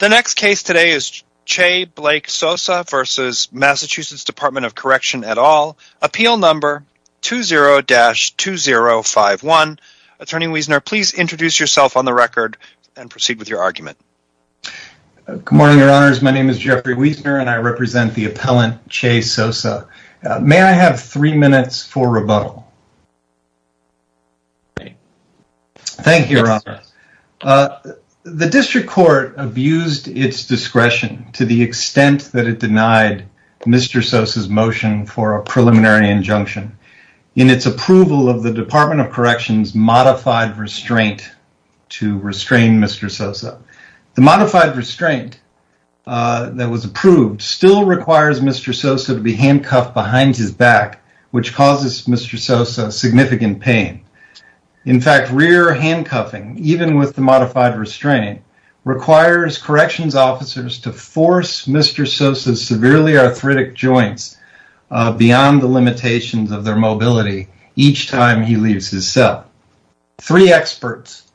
The next case today is Che Blake Sosa v. Massachusetts Department of Correction et al. Appeal number 20-2051. Attorney Wiesner, please introduce yourself on the record and proceed with your argument. Good morning, Your Honors. My name is Jeffrey Wiesner, and I represent the appellant Che Sosa. May I have three minutes for rebuttal? Thank you, Your Honors. The district court abused its discretion to the extent that it denied Mr. Sosa's motion for a preliminary injunction in its approval of the Department of Correction's modified restraint to restrain Mr. Sosa. The modified restraint that was approved still requires Mr. Sosa to be handcuffed behind his back, which causes Mr. Sosa significant pain. In fact, rear handcuffing, even with the modified restraint, requires corrections officers to force Mr. Sosa's severely arthritic joints beyond the limitations of their mobility each time he leaves his cell. Three experts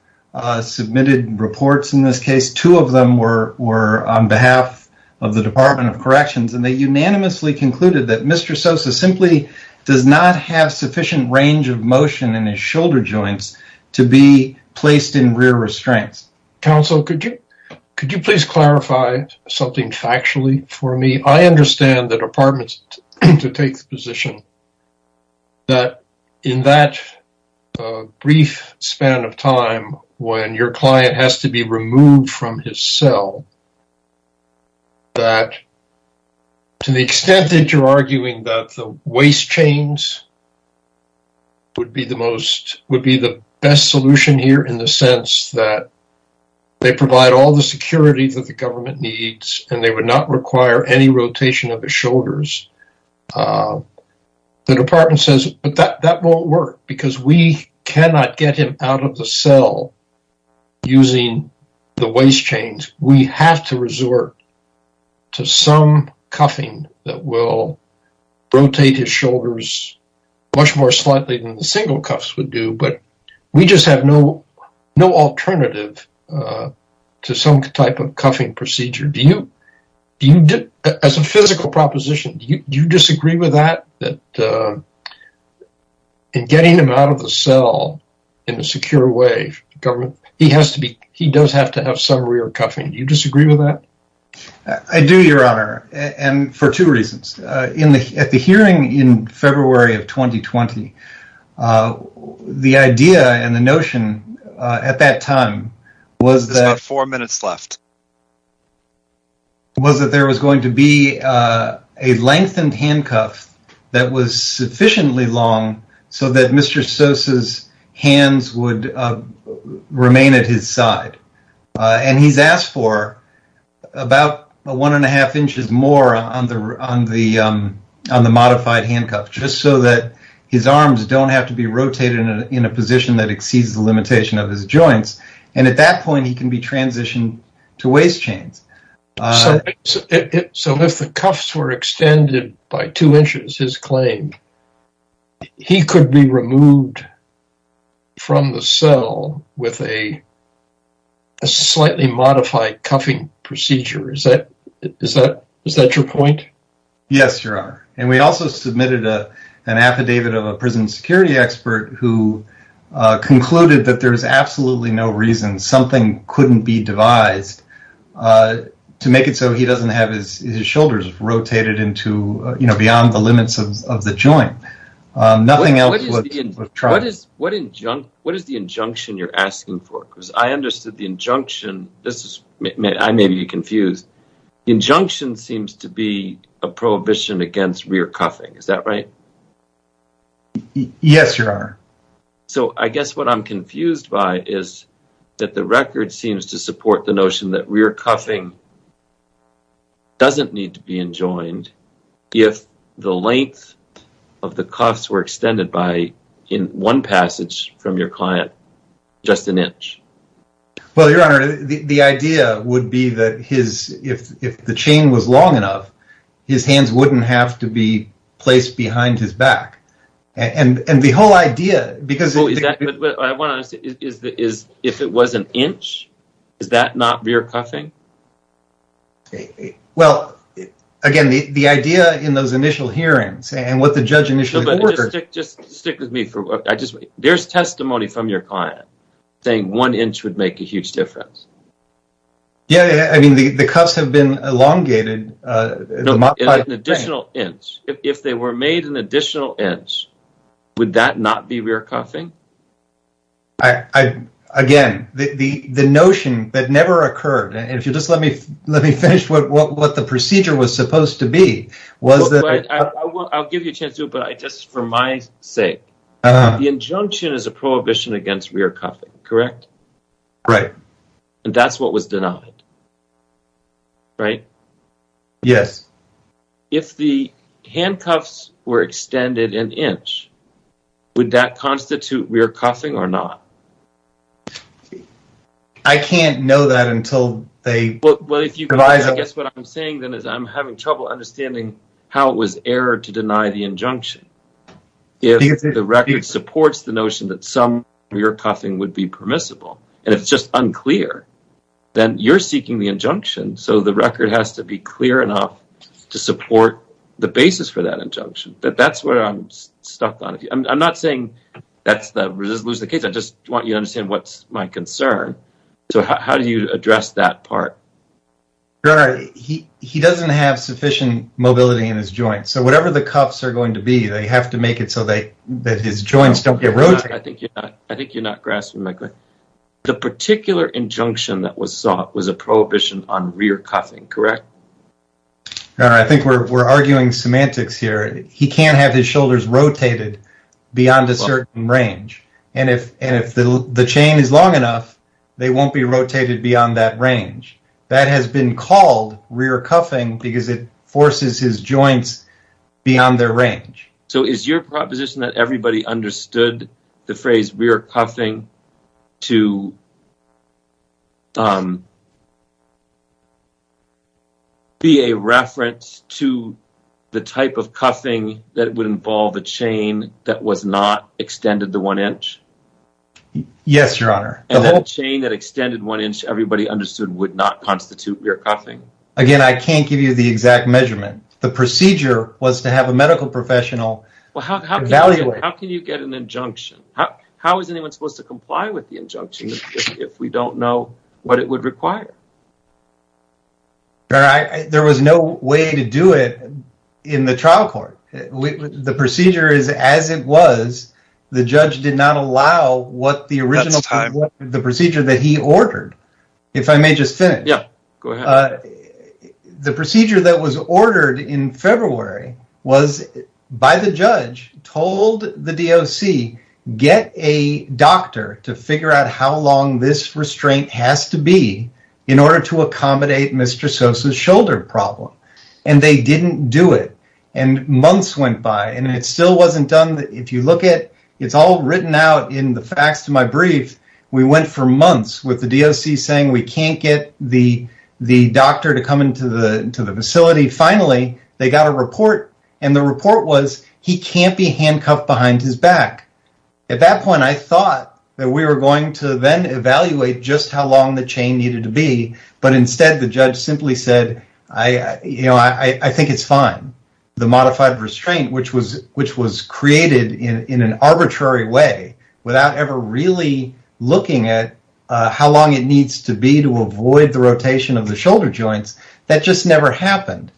submitted reports in this case. Two of them were on behalf of the Department of Corrections, and they unanimously concluded that Mr. Sosa simply does not have sufficient range of motion in his shoulder joints to be placed in rear restraints. Counsel, could you please clarify something factually for me? I understand the Department's take the position that in that brief span of time when your client has to be removed from his cell, that to the extent that you're arguing that the waist chains would be the best solution here in the sense that they provide all the security that the government needs and they would not require any rotation of his shoulders, the Department says that that won't work because we cannot get him out of the cell using the waist chains. We have to resort to some cuffing that will rotate his shoulders much more slightly than the single cuffs would do, but we just have no alternative to some type of cuffing procedure. As a physical proposition, do you disagree with that? In getting him out of the cell in a secure way, he does have to have some rear cuffing. Do you disagree with that? I do, Your Honor, and for two reasons. At the hearing in February of 2020, the idea and the notion at that time was that there was going to be a lengthened handcuff that was sufficiently long so that Mr. Sosa's hands would remain at his side, and he's asked for about one and a half inches more on the modified handcuff just so that his arms don't have to be rotated in a position that exceeds the limitation of his joints, and at that point he can be transitioned to waist chains. So if the cuffs were extended by two inches, his claim, he could be removed from the cell with a slightly modified cuffing procedure. Is that your point? Yes, Your Honor, and we also submitted an affidavit of a prison security expert who concluded that there's absolutely no reason something couldn't be devised to make it so he doesn't have his shoulders rotated beyond the limits of the joint. What is the injunction you're asking for? Because I understood the injunction. I may be confused. The injunction seems to be a prohibition against rear cuffing. Is that right? Yes, Your Honor. So I guess what I'm confused by is that the record seems to support the notion that rear cuffing doesn't need to be enjoined if the length of the cuffs were extended by, in one passage from your client, just an inch. Well, Your Honor, the idea would be that if the chain was long enough, his hands wouldn't have to be placed behind his back. And the whole idea, because of the… I want to ask, if it was an inch, is that not rear cuffing? Well, again, the idea in those initial hearings and what the judge initially… Just stick with me. There's testimony from your client saying one inch would make a huge difference. Yeah, I mean, the cuffs have been elongated. No, an additional inch. If they were made an additional inch, would that not be rear cuffing? Again, the notion that never occurred, and if you'll just let me finish what the procedure was supposed to be, was that… I'll give you a chance to, but just for my sake. The injunction is a prohibition against rear cuffing, correct? Right. And that's what was denied, right? Yes. If the handcuffs were extended an inch, would that constitute rear cuffing or not? I can't know that until they… Well, I guess what I'm saying then is I'm having trouble understanding how it was errored to deny the injunction. If the record supports the notion that some rear cuffing would be permissible, and it's just unclear, then you're seeking the injunction, so the record has to be clear enough to support the basis for that injunction. That's what I'm stuck on. I'm not saying that's the case. I just want you to understand what's my concern. So how do you address that part? He doesn't have sufficient mobility in his joints. So whatever the cuffs are going to be, they have to make it so that his joints don't get rotated. I think you're not grasping my point. The particular injunction that was sought was a prohibition on rear cuffing, correct? I think we're arguing semantics here. He can't have his shoulders rotated beyond a certain range. And if the chain is long enough, they won't be rotated beyond that range. That has been called rear cuffing because it forces his joints beyond their range. So is your proposition that everybody understood the phrase rear cuffing to be a reference to the type of cuffing that would involve a chain that was not extended to one inch? Yes, Your Honor. And that chain that extended one inch everybody understood would not constitute rear cuffing. Again, I can't give you the exact measurement. The procedure was to have a medical professional evaluate. How can you get an injunction? How is anyone supposed to comply with the injunction if we don't know what it would require? There was no way to do it in the trial court. The procedure is as it was. The judge did not allow what the original procedure that he ordered. If I may just finish. The procedure that was ordered in February was by the judge told the DOC get a doctor to figure out how long this restraint has to be in order to accommodate Mr. Sosa's shoulder problem. And they didn't do it. And months went by and it still wasn't done. If you look at it, it's all written out in the facts to my brief. We went for months with the DOC saying we can't get the doctor to come into the facility. Finally, they got a report and the report was he can't be handcuffed behind his back. At that point, I thought that we were going to then evaluate just how long the chain needed to be. But instead, the judge simply said, I think it's fine. The modified restraint, which was created in an arbitrary way without ever really looking at how long it needs to be to avoid the rotation of the shoulder joints, that just never happened.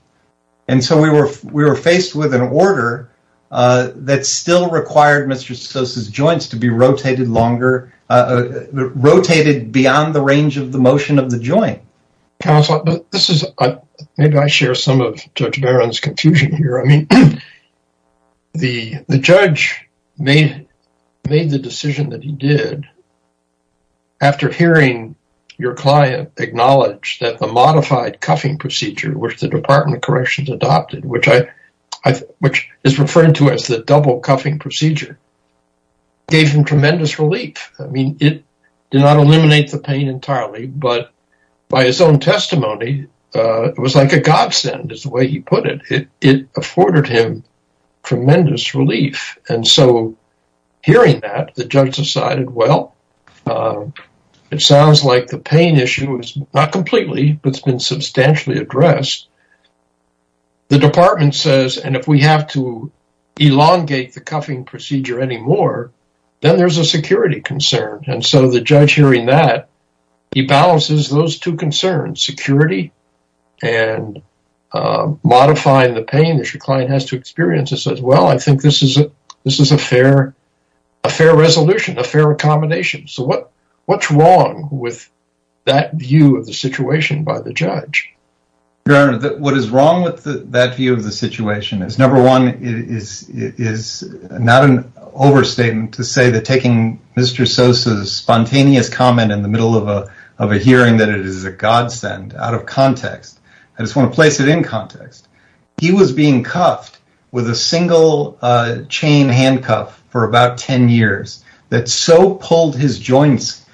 And so we were we were faced with an order that still required Mr. Sosa's joints to be rotated longer, rotated beyond the range of the motion of the joint. Counselor, maybe I share some of Judge Barron's confusion here. I mean, the judge made the decision that he did after hearing your client acknowledge that the modified cuffing procedure, which the Department of Corrections adopted, which is referring to as the double cuffing procedure, gave him tremendous relief. I mean, it did not eliminate the pain entirely, but by his own testimony, it was like a godsend is the way he put it. It afforded him tremendous relief. And so hearing that, the judge decided, well, it sounds like the pain issue is not completely, but it's been substantially addressed. The department says, and if we have to elongate the cuffing procedure anymore, then there's a security concern. And so the judge hearing that, he balances those two concerns, security and modifying the pain that your client has to experience. He says, well, I think this is a fair resolution, a fair accommodation. So what's wrong with that view of the situation by the judge? What is wrong with that view of the situation is, number one, it is not an overstatement to say that taking Mr. Sosa's spontaneous comment in the middle of a hearing that it is a godsend out of context. I just want to place it in context. He was being cuffed with a single chain handcuff for about 10 years that so pulled his joints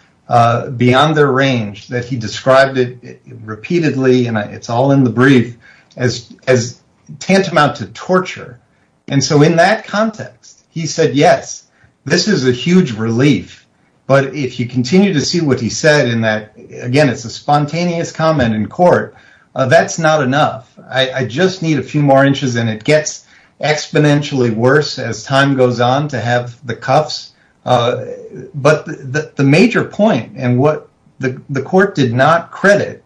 beyond their range that he described it repeatedly, and it's all in the brief, as tantamount to torture. And so in that context, he said, yes, this is a huge relief. But if you continue to see what he said in that, again, it's a spontaneous comment in court, that's not enough. I just need a few more inches, and it gets exponentially worse as time goes on to have the cuffs. But the major point, and what the court did not credit,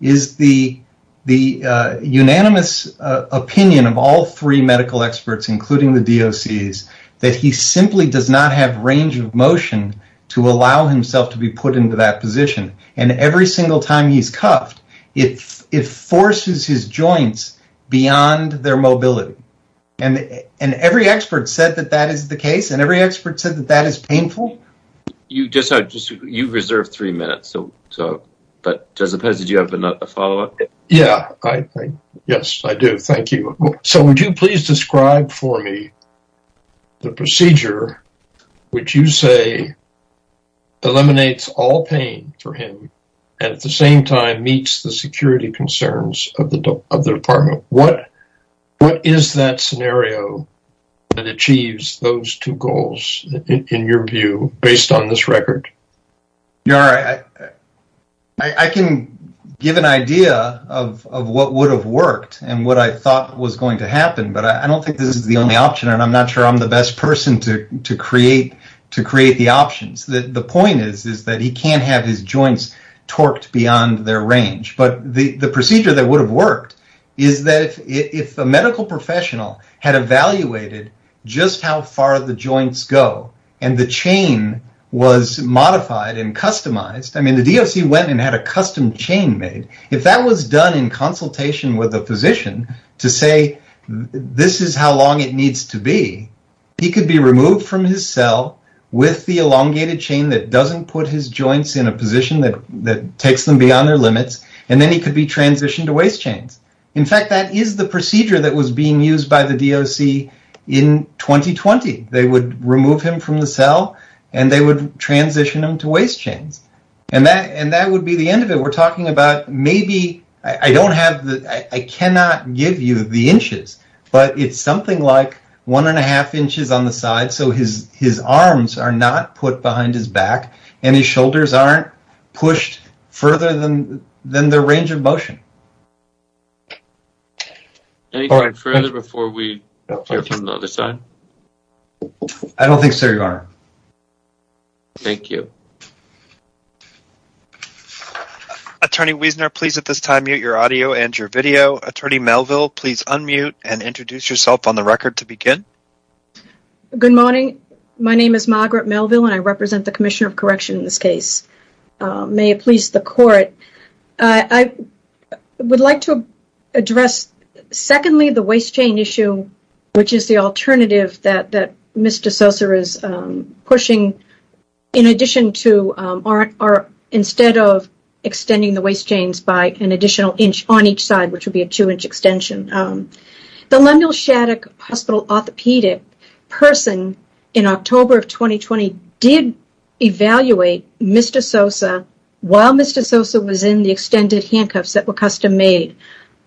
is the unanimous opinion of all three medical experts, including the DOCs, that he simply does not have range of motion to allow himself to be put into that position. And every single time he's cuffed, it forces his joints beyond their mobility. And every expert said that that is the case. And every expert said that that is painful. You've reserved three minutes. But, Joseph Hess, did you have a follow-up? Yeah. Yes, I do. Thank you. So would you please describe for me the procedure which you say eliminates all pain for him, and at the same time meets the security concerns of the department? What is that scenario that achieves those two goals, in your view, based on this record? I can give an idea of what would have worked and what I thought was going to happen, but I don't think this is the only option, and I'm not sure I'm the best person to create the options. The point is that he can't have his joints torqued beyond their range. But the procedure that would have worked is that if a medical professional had evaluated just how far the joints go, and the chain was modified and customized. I mean, the DOC went and had a custom chain made. If that was done in consultation with a physician to say, this is how long it needs to be, he could be removed from his cell with the elongated chain that doesn't put his joints in a position that takes them beyond their limits, and then he could be transitioned to waist chains. In fact, that is the procedure that was being used by the DOC in 2020. They would remove him from the cell, and they would transition him to waist chains. And that would be the end of it. We're talking about maybe, I cannot give you the inches, but it's something like one and a half inches on the side, so his arms are not put behind his back, and his shoulders aren't pushed further than their range of motion. Any further before we hear from the other side? I don't think so, Your Honor. Thank you. Attorney Wiesner, please at this time mute your audio and your video. Attorney Melville, please unmute and introduce yourself on the record to begin. Good morning. My name is Margaret Melville, and I represent the Commissioner of Correction in this case. May it please the Court. I would like to address, secondly, the waist chain issue, which is the alternative that Mr. Sosa is pushing, instead of extending the waist chains by an additional inch on each side, which would be a two-inch extension. The Lundell Shattuck Hospital orthopedic person in October of 2020 did evaluate Mr. Sosa while Mr. Sosa was in the extended handcuffs that were custom-made.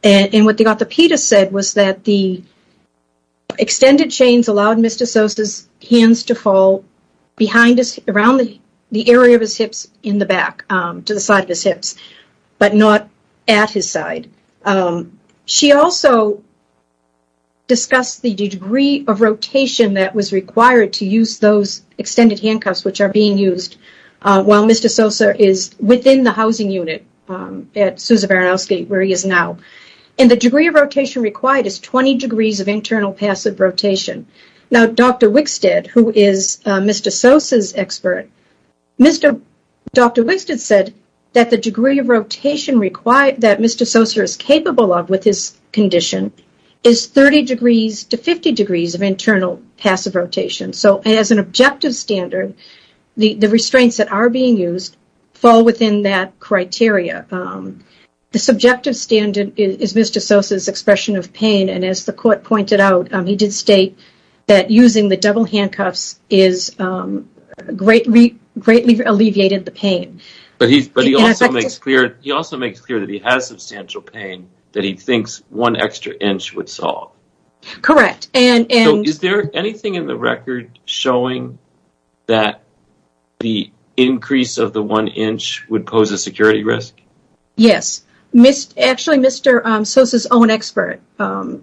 And what the orthopedist said was that the extended chains allowed Mr. Sosa's hands to fall behind his, around the area of his hips in the back, to the side of his hips, but not at his side. She also discussed the degree of rotation that was required to use those extended handcuffs, which are being used while Mr. Sosa is within the housing unit at Sousa Baranowski, where he is now. And the degree of rotation required is 20 degrees of internal passive rotation. Now, Dr. Wickstead, who is Mr. Sosa's expert, said that the degree of rotation that Mr. Sosa is capable of with his condition is 30 degrees to 50 degrees of internal passive rotation. So, as an objective standard, the restraints that are being used fall within that criteria. The subjective standard is Mr. Sosa's expression of pain, and as the court pointed out, he did state that using the double handcuffs greatly alleviated the pain. But he also makes clear that he has substantial pain that he thinks one extra inch would solve. Correct. So, is there anything in the record showing that the increase of the one inch would pose a security risk? Yes. Actually, Mr. Sosa's own expert,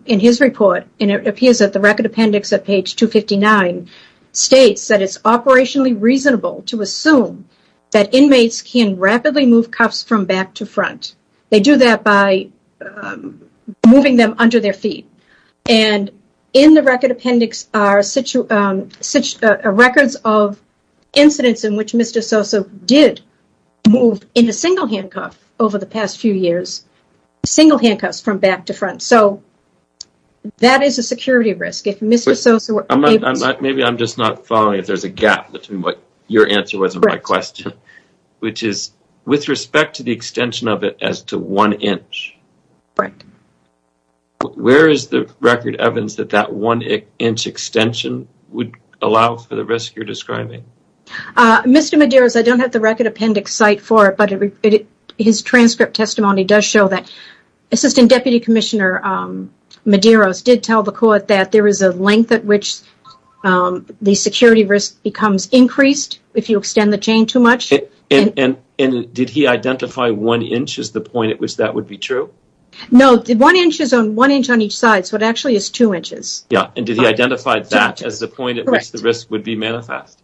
in his report, and it appears at the record appendix at page 259, states that it's operationally reasonable to assume that inmates can rapidly move cuffs from back to front. They do that by moving them under their feet. And in the record appendix are records of incidents in which Mr. Sosa did move, in a single handcuff, over the past few years, single handcuffs from back to front. So, that is a security risk. Maybe I'm just not following if there's a gap between what your answer was and my question. Which is, with respect to the extension of it as to one inch, where is the record evidence that that one inch extension would allow for the risk you're describing? Mr. Medeiros, I don't have the record appendix cite for it, but his transcript testimony does show that Assistant Deputy Commissioner Medeiros did tell the court that there is a length at which the security risk becomes increased if you extend the chain too much. And did he identify one inch as the point at which that would be true? No, one inch is one inch on each side, so it actually is two inches. And did he identify that as the point at which the risk would be manifest?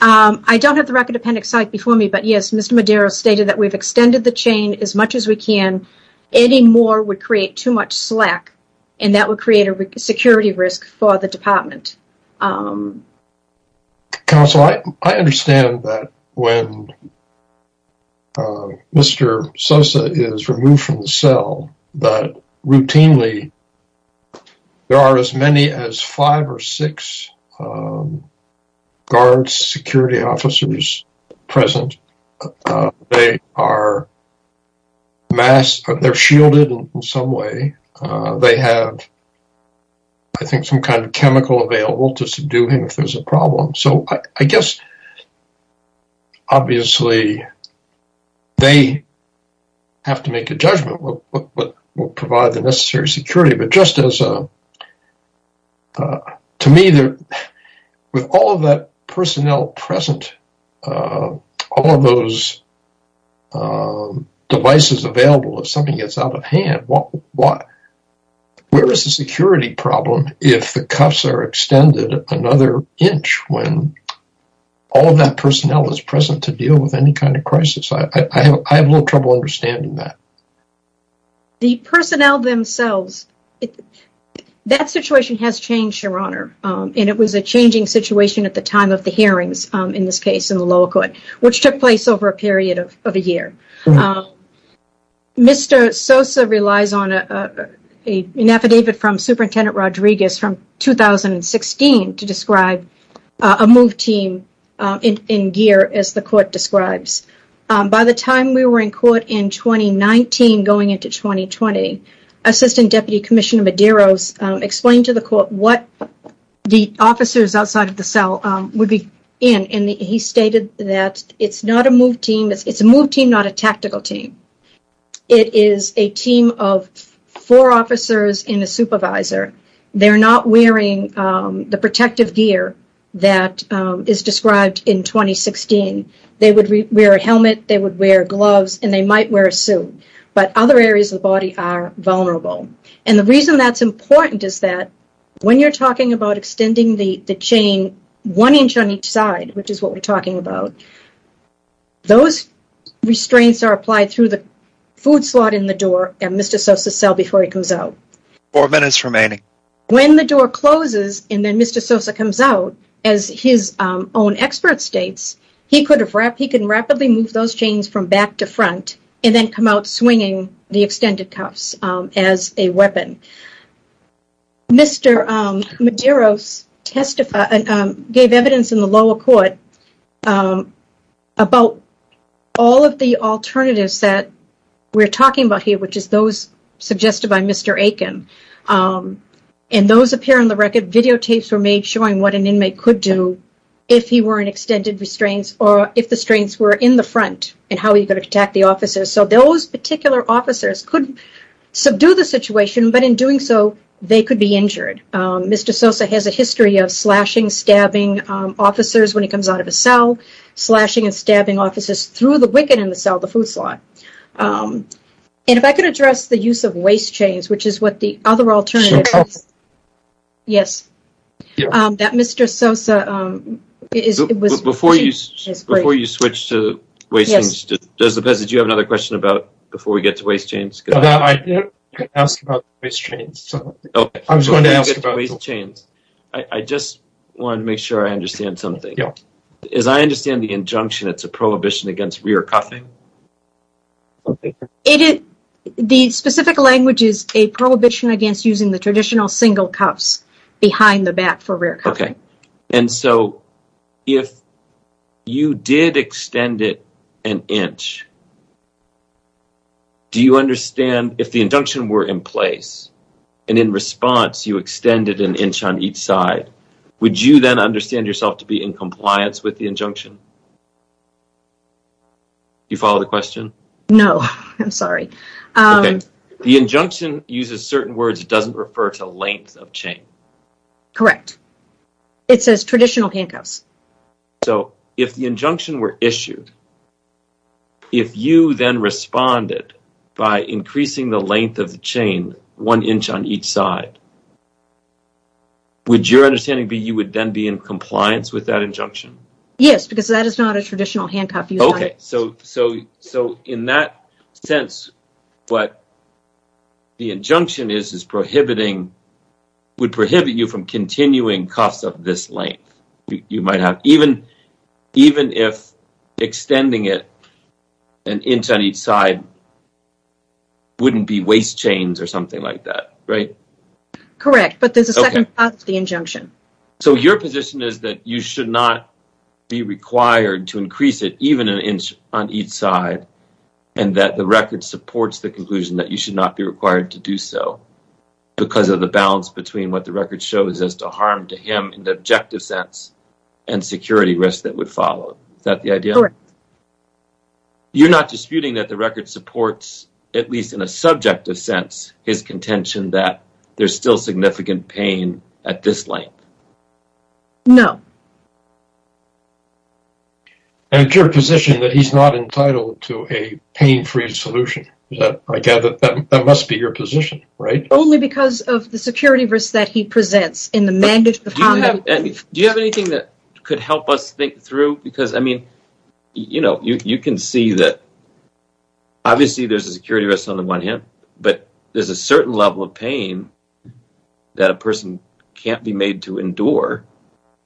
I don't have the record appendix cite before me, but yes, Mr. Medeiros stated that we've extended the chain as much as we can. Any more would create too much slack, and that would create a security risk for the department. Counsel, I understand that when Mr. Sosa is removed from the cell, that routinely there are as many as five or six guards, security officers present. They are shielded in some way. They have, I think, some kind of chemical available to subdue him if there's a problem. So I guess, obviously, they have to make a judgment what will provide the necessary security. To me, with all of that personnel present, all of those devices available, if something gets out of hand, where is the security problem if the cuffs are extended another inch when all of that personnel is present to deal with any kind of crisis? I have a little trouble understanding that. The personnel themselves, that situation has changed, Your Honor, and it was a changing situation at the time of the hearings, in this case, in the lower court, which took place over a period of a year. Mr. Sosa relies on an affidavit from Superintendent Rodriguez from 2016 to describe a move team in gear, as the court describes. By the time we were in court in 2019 going into 2020, Assistant Deputy Commissioner Medeiros explained to the court what the officers outside of the cell would be in, and he stated that it's not a move team, it's a move team, not a tactical team. It is a team of four officers and a supervisor. They're not wearing the protective gear that is described in 2016. They would wear a helmet, they would wear gloves, and they might wear a suit. But other areas of the body are vulnerable. And the reason that's important is that when you're talking about extending the chain one inch on each side, which is what we're talking about, those restraints are applied through the food slot in the door at Mr. Sosa's cell before he comes out. Four minutes remaining. When the door closes and then Mr. Sosa comes out, as his own expert states, he could rapidly move those chains from back to front and then come out swinging the extended cuffs as a weapon. Mr. Medeiros gave evidence in the lower court about all of the alternatives that we're talking about here, which is those suggested by Mr. Aiken. And those appear on the record. Videotapes were made showing what an inmate could do if he were in extended restraints or if the restraints were in the front and how he could attack the officers. So those particular officers could subdue the situation, but in doing so, they could be injured. Mr. Sosa has a history of slashing, stabbing officers when he comes out of a cell, slashing and stabbing officers through the wicket in the cell, the food slot. And if I could address the use of waist chains, which is what the other alternative is. Yes. That Mr. Sosa... Before you switch to waist chains, does the PESA do you have another question about before we get to waist chains? I didn't ask about waist chains. I was going to ask about waist chains. I just wanted to make sure I understand something. Yeah. As I understand the injunction, it's a prohibition against rear cuffing. The specific language is a prohibition against using the traditional single cuffs behind the back for rear cuffing. Okay. And so if you did extend it an inch, do you understand if the injunction were in place and in response you extended an inch on each side, would you then understand yourself to be in compliance with the injunction? Do you follow the question? No. I'm sorry. Okay. The injunction uses certain words. It doesn't refer to length of chain. Correct. It says traditional handcuffs. So if the injunction were issued, if you then responded by increasing the length of the chain one inch on each side, would your understanding be you would then be in compliance with that injunction? Yes, because that is not a traditional handcuff. Okay. So in that sense, what the injunction is is prohibiting – would prohibit you from continuing cuffs of this length. You might have – even if extending it an inch on each side wouldn't be waist chains or something like that, right? Correct, but there's a second part of the injunction. So your position is that you should not be required to increase it even an inch on each side and that the record supports the conclusion that you should not be required to do so because of the balance between what the record shows as to harm to him in the objective sense and security risk that would follow. Is that the idea? Correct. You're not disputing that the record supports, at least in a subjective sense, his contention that there's still significant pain at this length? No. And it's your position that he's not entitled to a pain-free solution. I gather that must be your position, right? Only because of the security risk that he presents in the mandate of harm. Do you have anything that could help us think through? Because, I mean, you can see that obviously there's a security risk on the one hand, but there's a certain level of pain that a person can't be made to endure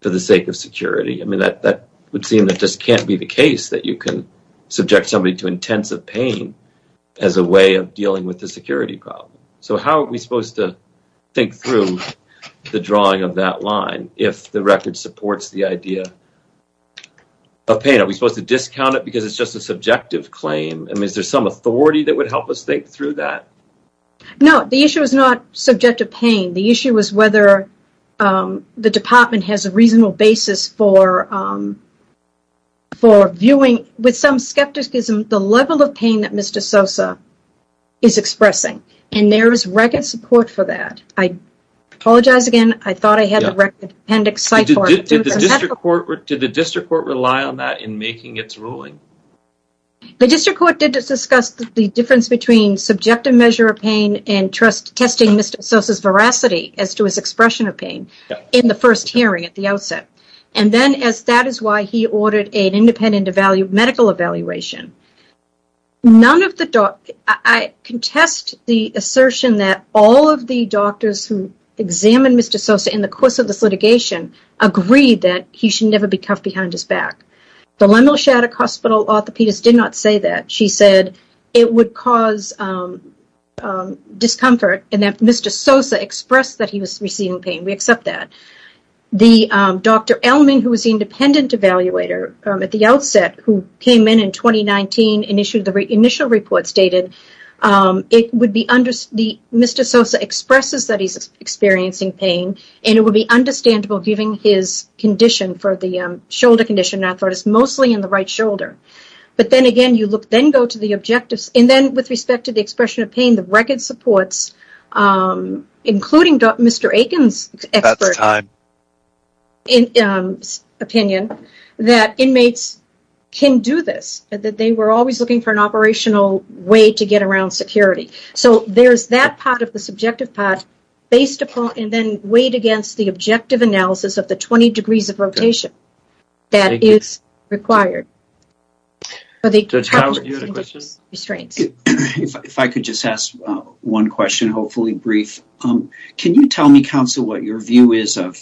for the sake of security. I mean, that would seem that just can't be the case that you can subject somebody to intensive pain as a way of dealing with the security problem. So how are we supposed to think through the drawing of that line if the record supports the idea of pain? Are we supposed to discount it because it's just a subjective claim? I mean, is there some authority that would help us think through that? No. The issue is not subjective pain. The issue is whether the department has a reasonable basis for viewing, with some skepticism, the level of pain that Mr. Sosa is expressing. And there is record support for that. I apologize again. I thought I had a record appendix. Did the district court rely on that in making its ruling? The district court did discuss the difference between subjective measure of pain and testing Mr. Sosa's veracity as to his expression of pain in the first hearing at the outset. And then as that is why he ordered an independent medical evaluation. I contest the assertion that all of the doctors who examined Mr. Sosa in the course of this litigation agreed that he should never be cuffed behind his back. The Lemel Shattuck Hospital orthopedist did not say that. She said it would cause discomfort and that Mr. Sosa expressed that he was receiving pain. We accept that. The Dr. Elman, who was the independent evaluator at the outset, who came in in 2019 and issued the initial report, stated Mr. Sosa expresses that he's experiencing pain. And it would be understandable given his condition for the shoulder condition. I thought it was mostly in the right shoulder. But then again, you then go to the objectives. And then with respect to the expression of pain, the record supports, including Mr. Aiken's opinion, that inmates can do this. That they were always looking for an operational way to get around security. So there's that part of the subjective part based upon and then weighed against the objective analysis of the 20 degrees of rotation that is required. Judge Howard, you had a question? If I could just ask one question, hopefully brief. Can you tell me, counsel, what your view is of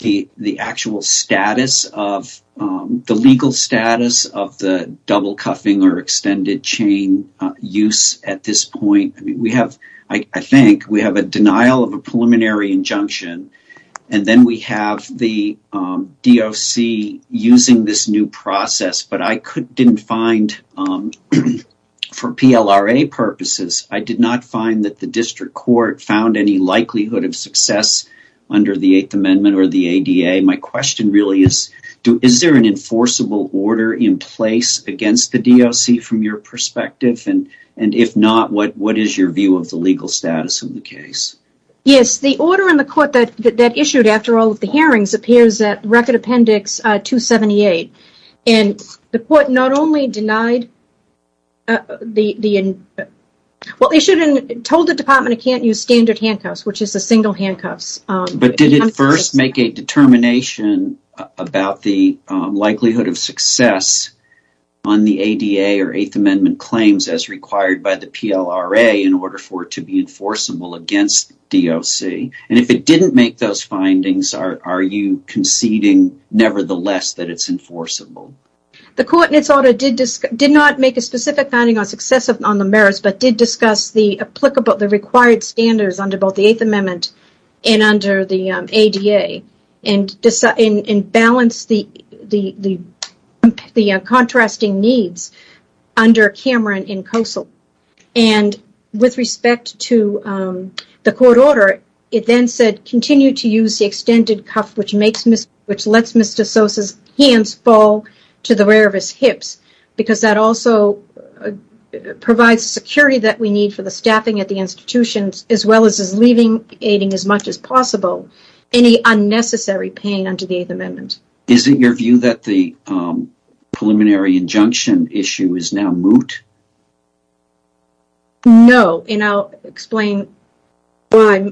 the actual status of the legal status of the double cuffing or extended chain use at this point? We have, I think, we have a denial of a preliminary injunction. And then we have the DOC using this new process. But I didn't find, for PLRA purposes, I did not find that the district court found any likelihood of success under the Eighth Amendment or the ADA. My question really is, is there an enforceable order in place against the DOC from your perspective? And if not, what is your view of the legal status of the case? Yes, the order in the court that issued after all of the hearings appears at Record Appendix 278. And the court not only denied the, well, issued and told the department it can't use standard handcuffs, which is the single handcuffs. But did it first make a determination about the likelihood of success on the ADA or Eighth Amendment claims as required by the PLRA in order for it to be enforceable against DOC? And if it didn't make those findings, are you conceding nevertheless that it's enforceable? The court in its order did not make a specific finding on success on the merits, but did discuss the applicable, the required standards under both the Eighth Amendment and under the ADA. And balance the contrasting needs under Cameron in COSL. And with respect to the court order, it then said, continue to use the extended cuff, which makes, which lets Mr. Sosa's hands fall to the rear of his hips. Because that also provides security that we need for the staffing at the institutions, as well as leaving, aiding as much as possible, any unnecessary pain under the Eighth Amendment. Is it your view that the preliminary injunction issue is now moot? No, and I'll explain why.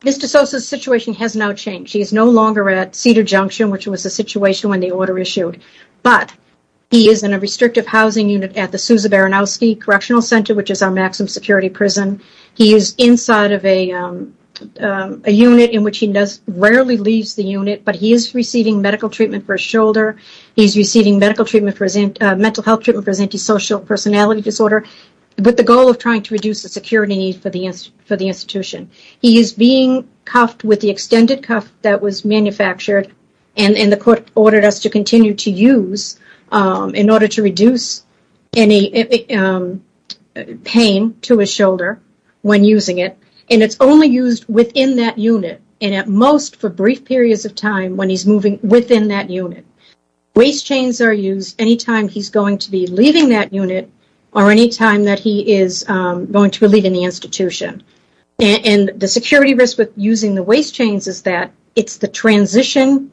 Mr. Sosa's situation has now changed. He is no longer at Cedar Junction, which was a situation when the order issued. But, he is in a restrictive housing unit at the Sosa-Baranowski Correctional Center, which is our maximum security prison. He is inside of a unit in which he rarely leaves the unit, but he is receiving medical treatment for his shoulder. He is receiving medical treatment for his, mental health treatment for his antisocial personality disorder. With the goal of trying to reduce the security need for the institution. He is being cuffed with the extended cuff that was manufactured, and the court ordered us to continue to use in order to reduce any pain to his shoulder when using it. And it's only used within that unit, and at most for brief periods of time when he's moving within that unit. Waist chains are used anytime he's going to be leaving that unit, or anytime that he is going to be leaving the institution. And the security risk with using the waist chains is that it's the transition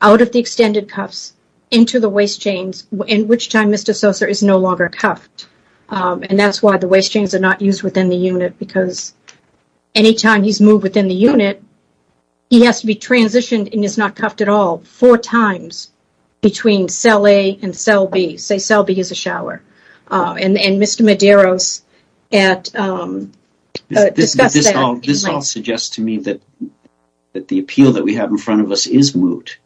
out of the extended cuffs into the waist chains, in which time Mr. Sosa is no longer cuffed. And that's why the waist chains are not used within the unit, because anytime he's moved within the unit, he has to be transitioned and is not cuffed at all. Four times between cell A and cell B. Say cell B is a shower. And Mr. Medeiros discussed that. This all suggests to me that the appeal that we have in front of us is moot.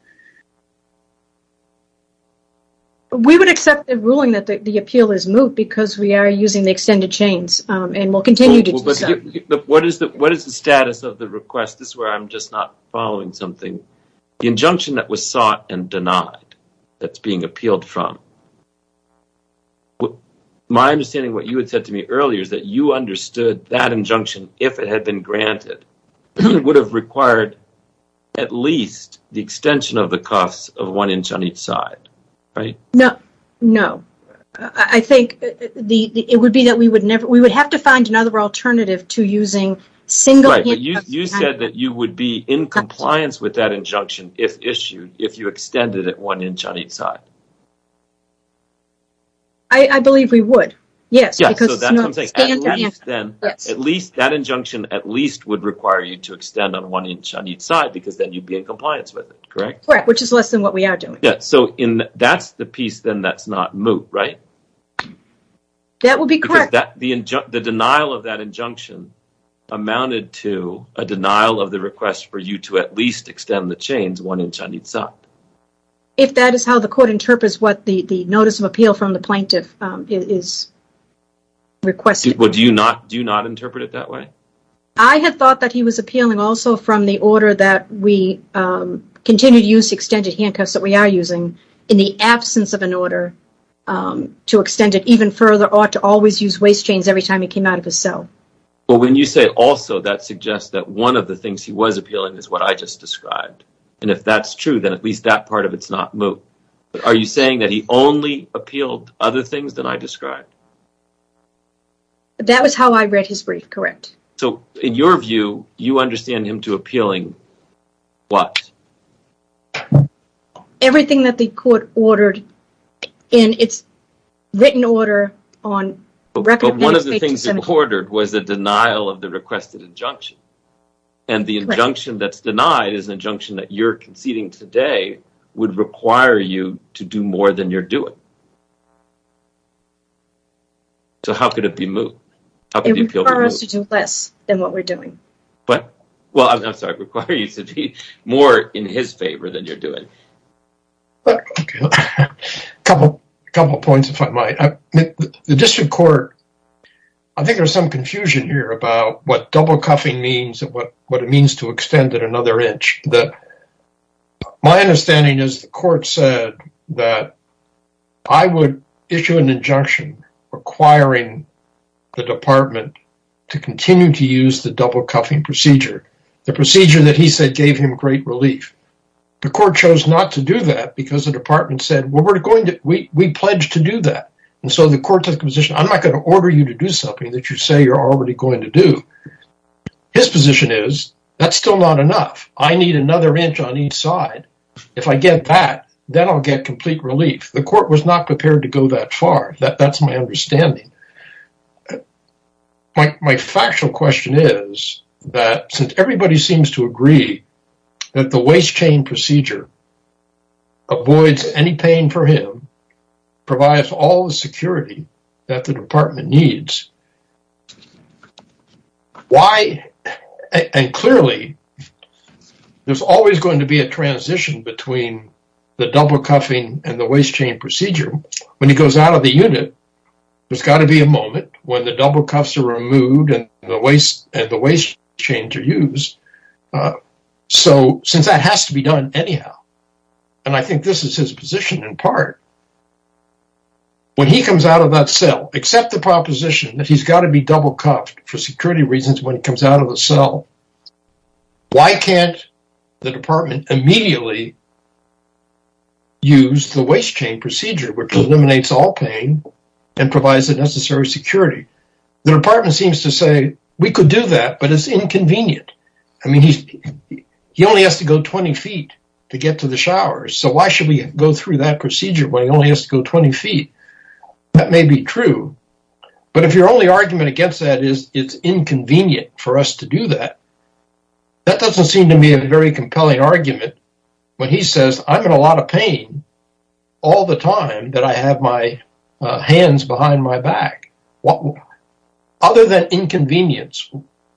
We would accept the ruling that the appeal is moot because we are using the extended chains, and we'll continue to do so. What is the status of the request? This is where I'm just not following something. The injunction that was sought and denied, that's being appealed from, my understanding of what you had said to me earlier is that you understood that injunction, if it had been granted, would have required at least the extension of the cuffs of one inch on each side, right? No. I think it would be that we would have to find another alternative to using single handcuffs. Right, but you said that you would be in compliance with that injunction if issued, if you extended it one inch on each side. I believe we would, yes. Yes, so that's what I'm saying. At least, that injunction at least would require you to extend on one inch on each side because then you'd be in compliance with it, correct? Correct, which is less than what we are doing. That's the piece then that's not moot, right? That would be correct. The denial of that injunction amounted to a denial of the request for you to at least extend the chains one inch on each side. If that is how the court interprets what the notice of appeal from the plaintiff is requesting. Do you not interpret it that way? I had thought that he was appealing also from the order that we continue to use extended handcuffs that we are using. In the absence of an order to extend it even further, ought to always use waist chains every time he came out of his cell. Well, when you say also, that suggests that one of the things he was appealing is what I just described. And if that's true, then at least that part of it's not moot. Are you saying that he only appealed other things than I described? That was how I read his brief, correct. So, in your view, you understand him to appealing what? Everything that the court ordered in its written order on recommending... But one of the things he ordered was a denial of the requested injunction. And the injunction that's denied is an injunction that you're conceding today would require you to do more than you're doing. So, how could it be moot? It would require us to do less than what we're doing. What? Well, I'm sorry, require you to do more in his favor than you're doing. A couple of points, if I might. The district court, I think there's some confusion here about what double cuffing means and what it means to extend it another inch. My understanding is the court said that I would issue an injunction requiring the department to continue to use the double cuffing procedure. The procedure that he said gave him great relief. The court chose not to do that because the department said, well, we pledged to do that. And so the court took the position, I'm not going to order you to do something that you say you're already going to do. His position is, that's still not enough. I need another inch on each side. If I get that, then I'll get complete relief. The court was not prepared to go that far. That's my understanding. My factual question is that since everybody seems to agree that the waist chain procedure avoids any pain for him, provides all the security that the department needs. Why, and clearly, there's always going to be a transition between the double cuffing and the waist chain procedure. When he goes out of the unit, there's got to be a moment when the double cuffs are removed and the waist chains are used. So, since that has to be done anyhow, and I think this is his position in part. When he comes out of that cell, except the proposition that he's got to be double cuffed for security reasons when he comes out of the cell. Why can't the department immediately use the waist chain procedure, which eliminates all pain and provides the necessary security? The department seems to say, we could do that, but it's inconvenient. I mean, he only has to go 20 feet to get to the showers. So, why should we go through that procedure when he only has to go 20 feet? That may be true, but if your only argument against that is it's inconvenient for us to do that, that doesn't seem to me a very compelling argument. When he says, I'm in a lot of pain all the time that I have my hands behind my back. Other than inconvenience,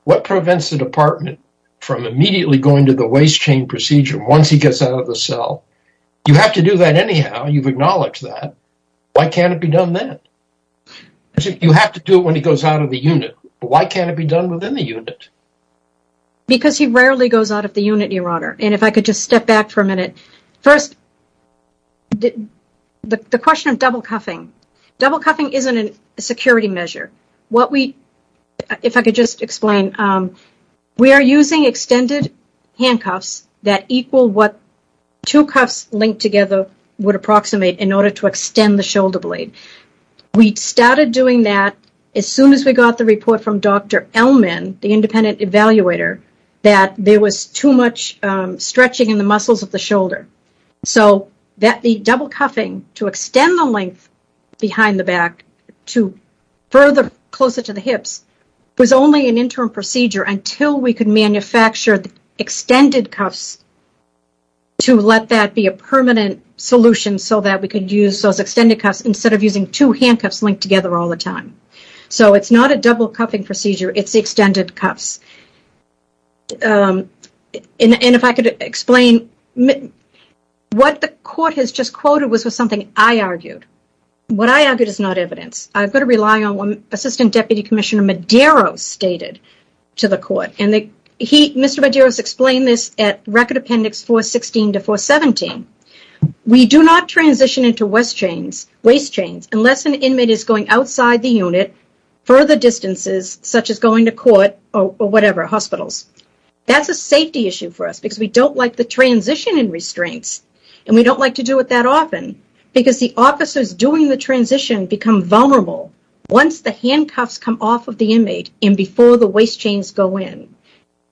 what prevents the department from immediately going to the waist chain procedure once he gets out of the cell? You have to do that anyhow, you've acknowledged that. Why can't it be done then? You have to do it when he goes out of the unit. Why can't it be done within the unit? Because he rarely goes out of the unit, Your Honor. And if I could just step back for a minute. First, the question of double cuffing. Double cuffing isn't a security measure. If I could just explain, we are using extended handcuffs that equal what two cuffs linked together would approximate in order to extend the shoulder blade. We started doing that as soon as we got the report from Dr. Elman, the independent evaluator, that there was too much stretching in the muscles of the shoulder. So the double cuffing to extend the length behind the back to further closer to the hips was only an interim procedure until we could manufacture extended cuffs to let that be a permanent solution so that we could use those extended cuffs instead of using two handcuffs linked together all the time. So it's not a double cuffing procedure, it's extended cuffs. And if I could explain, what the court has just quoted was something I argued. What I argued is not evidence. I've got to rely on what Assistant Deputy Commissioner Medeiros stated to the court. And Mr. Medeiros explained this at Record Appendix 416 to 417. We do not transition into waist chains unless an inmate is going outside the unit further distances such as going to court or whatever, hospitals. That's a safety issue for us because we don't like the transition in restraints. And we don't like to do it that often because the officers doing the transition become vulnerable once the handcuffs come off of the inmate and before the waist chains go in.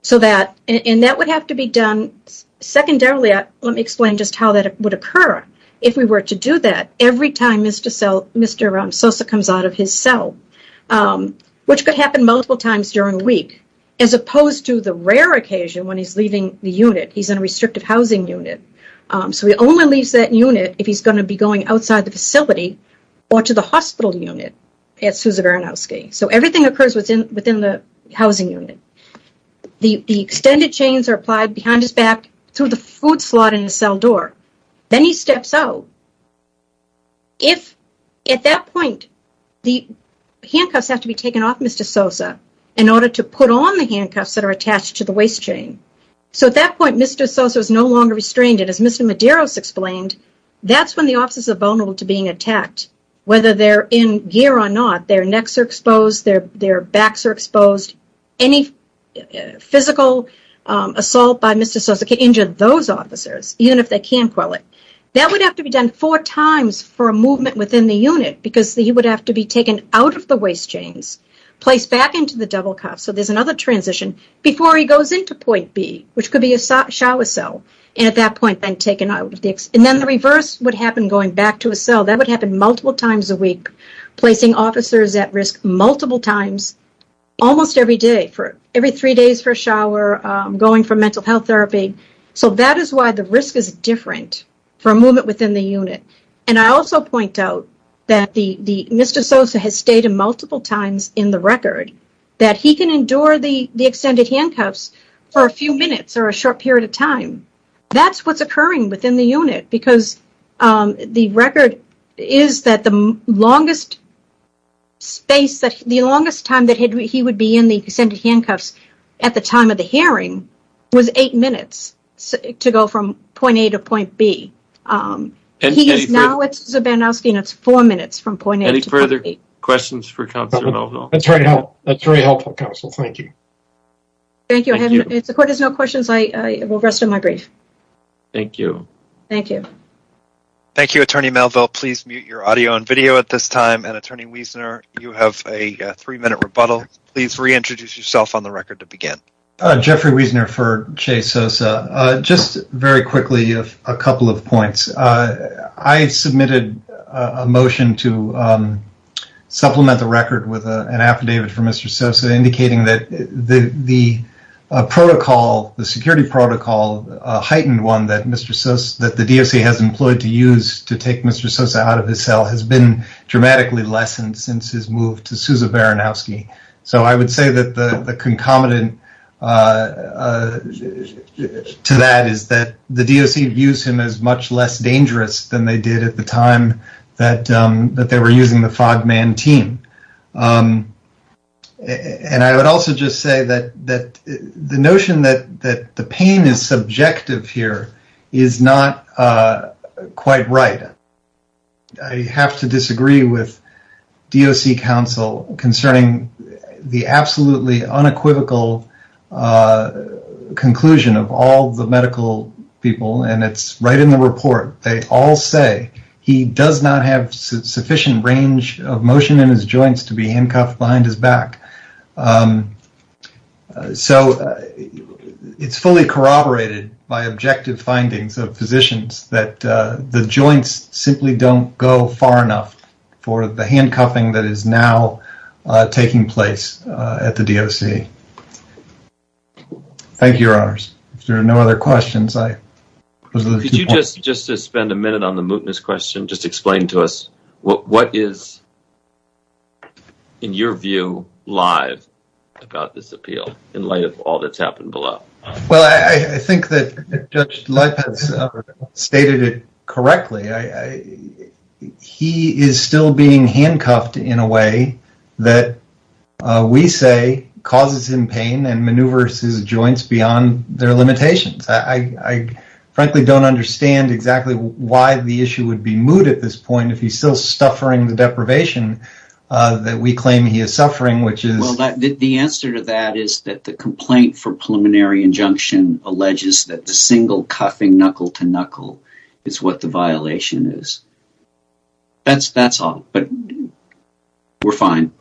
And that would have to be done secondarily. Let me explain just how that would occur. If we were to do that, every time Mr. Sosa comes out of his cell, which could happen multiple times during the week, as opposed to the rare occasion when he's leaving the unit. He's in a restrictive housing unit. So he only leaves that unit if he's going to be going outside the facility or to the hospital unit at Susa Vernowski. So everything occurs within the housing unit. The extended chains are applied behind his back through the food slot in the cell door. Then he steps out. At that point, the handcuffs have to be taken off Mr. Sosa in order to put on the handcuffs that are attached to the waist chain. So at that point, Mr. Sosa is no longer restrained. And as Mr. Medeiros explained, that's when the officers are vulnerable to being attacked. Whether they're in gear or not, their necks are exposed, their backs are exposed. Any physical assault by Mr. Sosa can injure those officers, even if they can't quell it. That would have to be done four times for a movement within the unit because he would have to be taken out of the waist chains, placed back into the double cuff. So there's another transition before he goes into point B, which could be a shower cell. And at that point, then taken out. That would happen multiple times a week, placing officers at risk multiple times almost every day. Every three days for a shower, going for mental health therapy. So that is why the risk is different for a movement within the unit. And I also point out that Mr. Sosa has stated multiple times in the record that he can endure the extended handcuffs for a few minutes or a short period of time. That's what's occurring within the unit because the record is that the longest time that he would be in the extended handcuffs at the time of the hearing was eight minutes to go from point A to point B. He is now at Sosa-Bandowski and it's four minutes from point A to point B. Any further questions for Counselor Melville? That's very helpful, Counselor. Thank you. Thank you. If the court has no questions, I will rest of my brief. Thank you. Thank you. Thank you, Attorney Melville. Please mute your audio and video at this time. And Attorney Wiesner, you have a three minute rebuttal. Please reintroduce yourself on the record to begin. Jeffrey Wiesner for Chase Sosa. Just very quickly, a couple of points. I submitted a motion to supplement the record with an affidavit for Mr. Sosa indicating that the security protocol, a heightened one, that the DOC has employed to use to take Mr. Sosa out of his cell has been dramatically lessened since his move to Sousa-Bandowski. So I would say that the concomitant to that is that the DOC views him as much less dangerous than they did at the time that they were using the Fog Man team. And I would also just say that the notion that the pain is subjective here is not quite right. I have to disagree with DOC counsel concerning the absolutely unequivocal conclusion of all the medical people, and it's right in the report. They all say he does not have sufficient range of motion in his joints to be handcuffed behind his back. So it's fully corroborated by objective findings of physicians that the joints simply don't go far enough for the handcuffing that is now taking place at the DOC. Thank you, Your Honors. If there are no other questions, I close those two points. Could you just spend a minute on the mootness question? Just explain to us what is, in your view, live about this appeal in light of all that's happened below? Well, I think that Judge Lippert stated it correctly. He is still being handcuffed in a way that we say causes him pain and maneuvers his joints beyond their limitations. I frankly don't understand exactly why the issue would be moot at this point if he's still suffering the deprivation that we claim he is suffering, which is… Well, the answer to that is that the complaint for preliminary injunction alleges that the single cuffing knuckle-to-knuckle is what the violation is. That's all, but we're fine.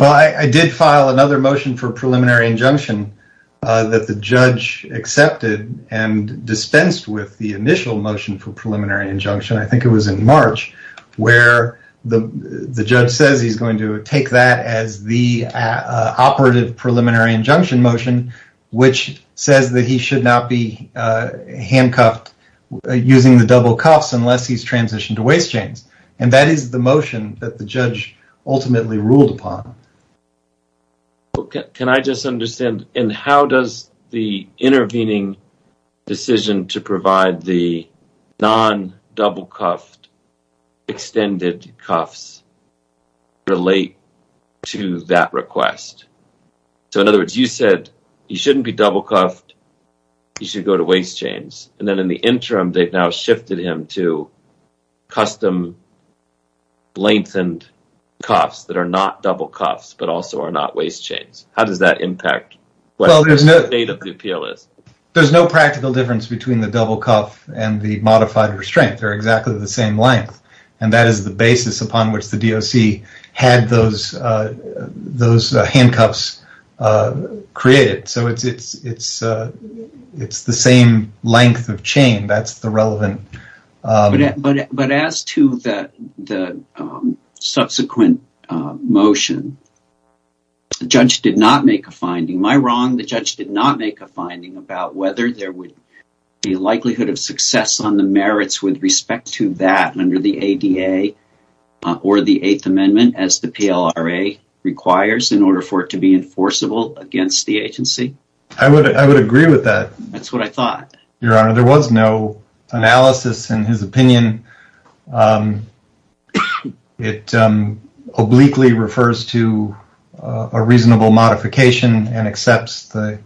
Well, I did file another motion for preliminary injunction that the judge accepted and dispensed with the initial motion for preliminary injunction. I think it was in March where the judge says he's going to take that as the operative preliminary injunction motion, which says that he should not be handcuffed using the double cuffs unless he's transitioned to waist chains. That is the motion that the judge ultimately ruled upon. Can I just understand, in how does the intervening decision to provide the non-double cuffed extended cuffs relate to that request? In other words, you said he shouldn't be double cuffed, he should go to waist chains, and then in the interim, they've now shifted him to custom lengthened cuffs that are not double cuffs but also are not waist chains. How does that impact what the state of the appeal is? There's no practical difference between the double cuff and the modified restraint. They're exactly the same length, and that is the basis upon which the DOC had those handcuffs created. So it's the same length of chain that's the relevant… …the likelihood of success on the merits with respect to that under the ADA or the Eighth Amendment as the PLRA requires in order for it to be enforceable against the agency. I would agree with that. Your Honor, there was no analysis in his opinion. It obliquely refers to a reasonable modification and accepts the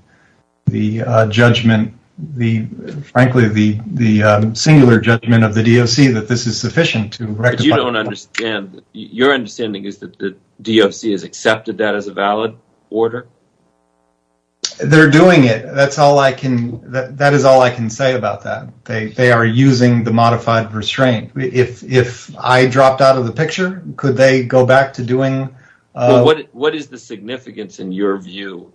judgment, frankly, the singular judgment of the DOC that this is sufficient to rectify… But you don't understand. Your understanding is that the DOC has accepted that as a valid order? They're doing it. That is all I can say about that. They are using the modified restraint. If I dropped out of the picture, could they go back to doing… What is the significance in your view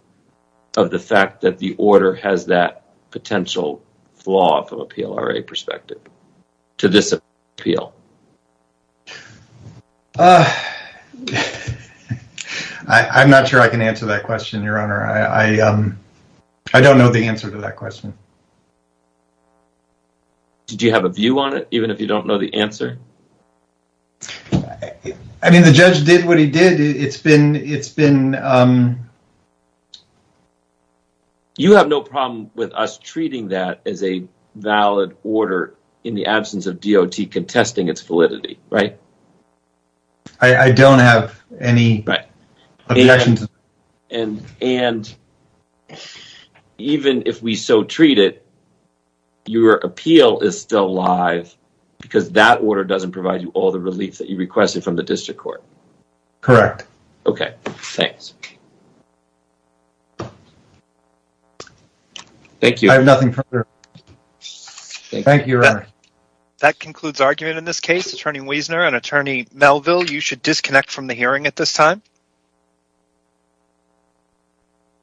of the fact that the order has that potential flaw from a PLRA perspective to this appeal? I'm not sure I can answer that question, Your Honor. I don't know the answer to that question. Did you have a view on it, even if you don't know the answer? I mean, the judge did what he did. It's been… You have no problem with us treating that as a valid order in the absence of DOT contesting its validity, right? I don't have any objections. And even if we so treat it, your appeal is still live because that order doesn't provide you all the relief that you requested from the district court. Correct. Okay. Thanks. Thank you. I have nothing further. Thank you, Your Honor. That concludes argument in this case. Attorney Wiesner and Attorney Melville, you should disconnect from the hearing at this time.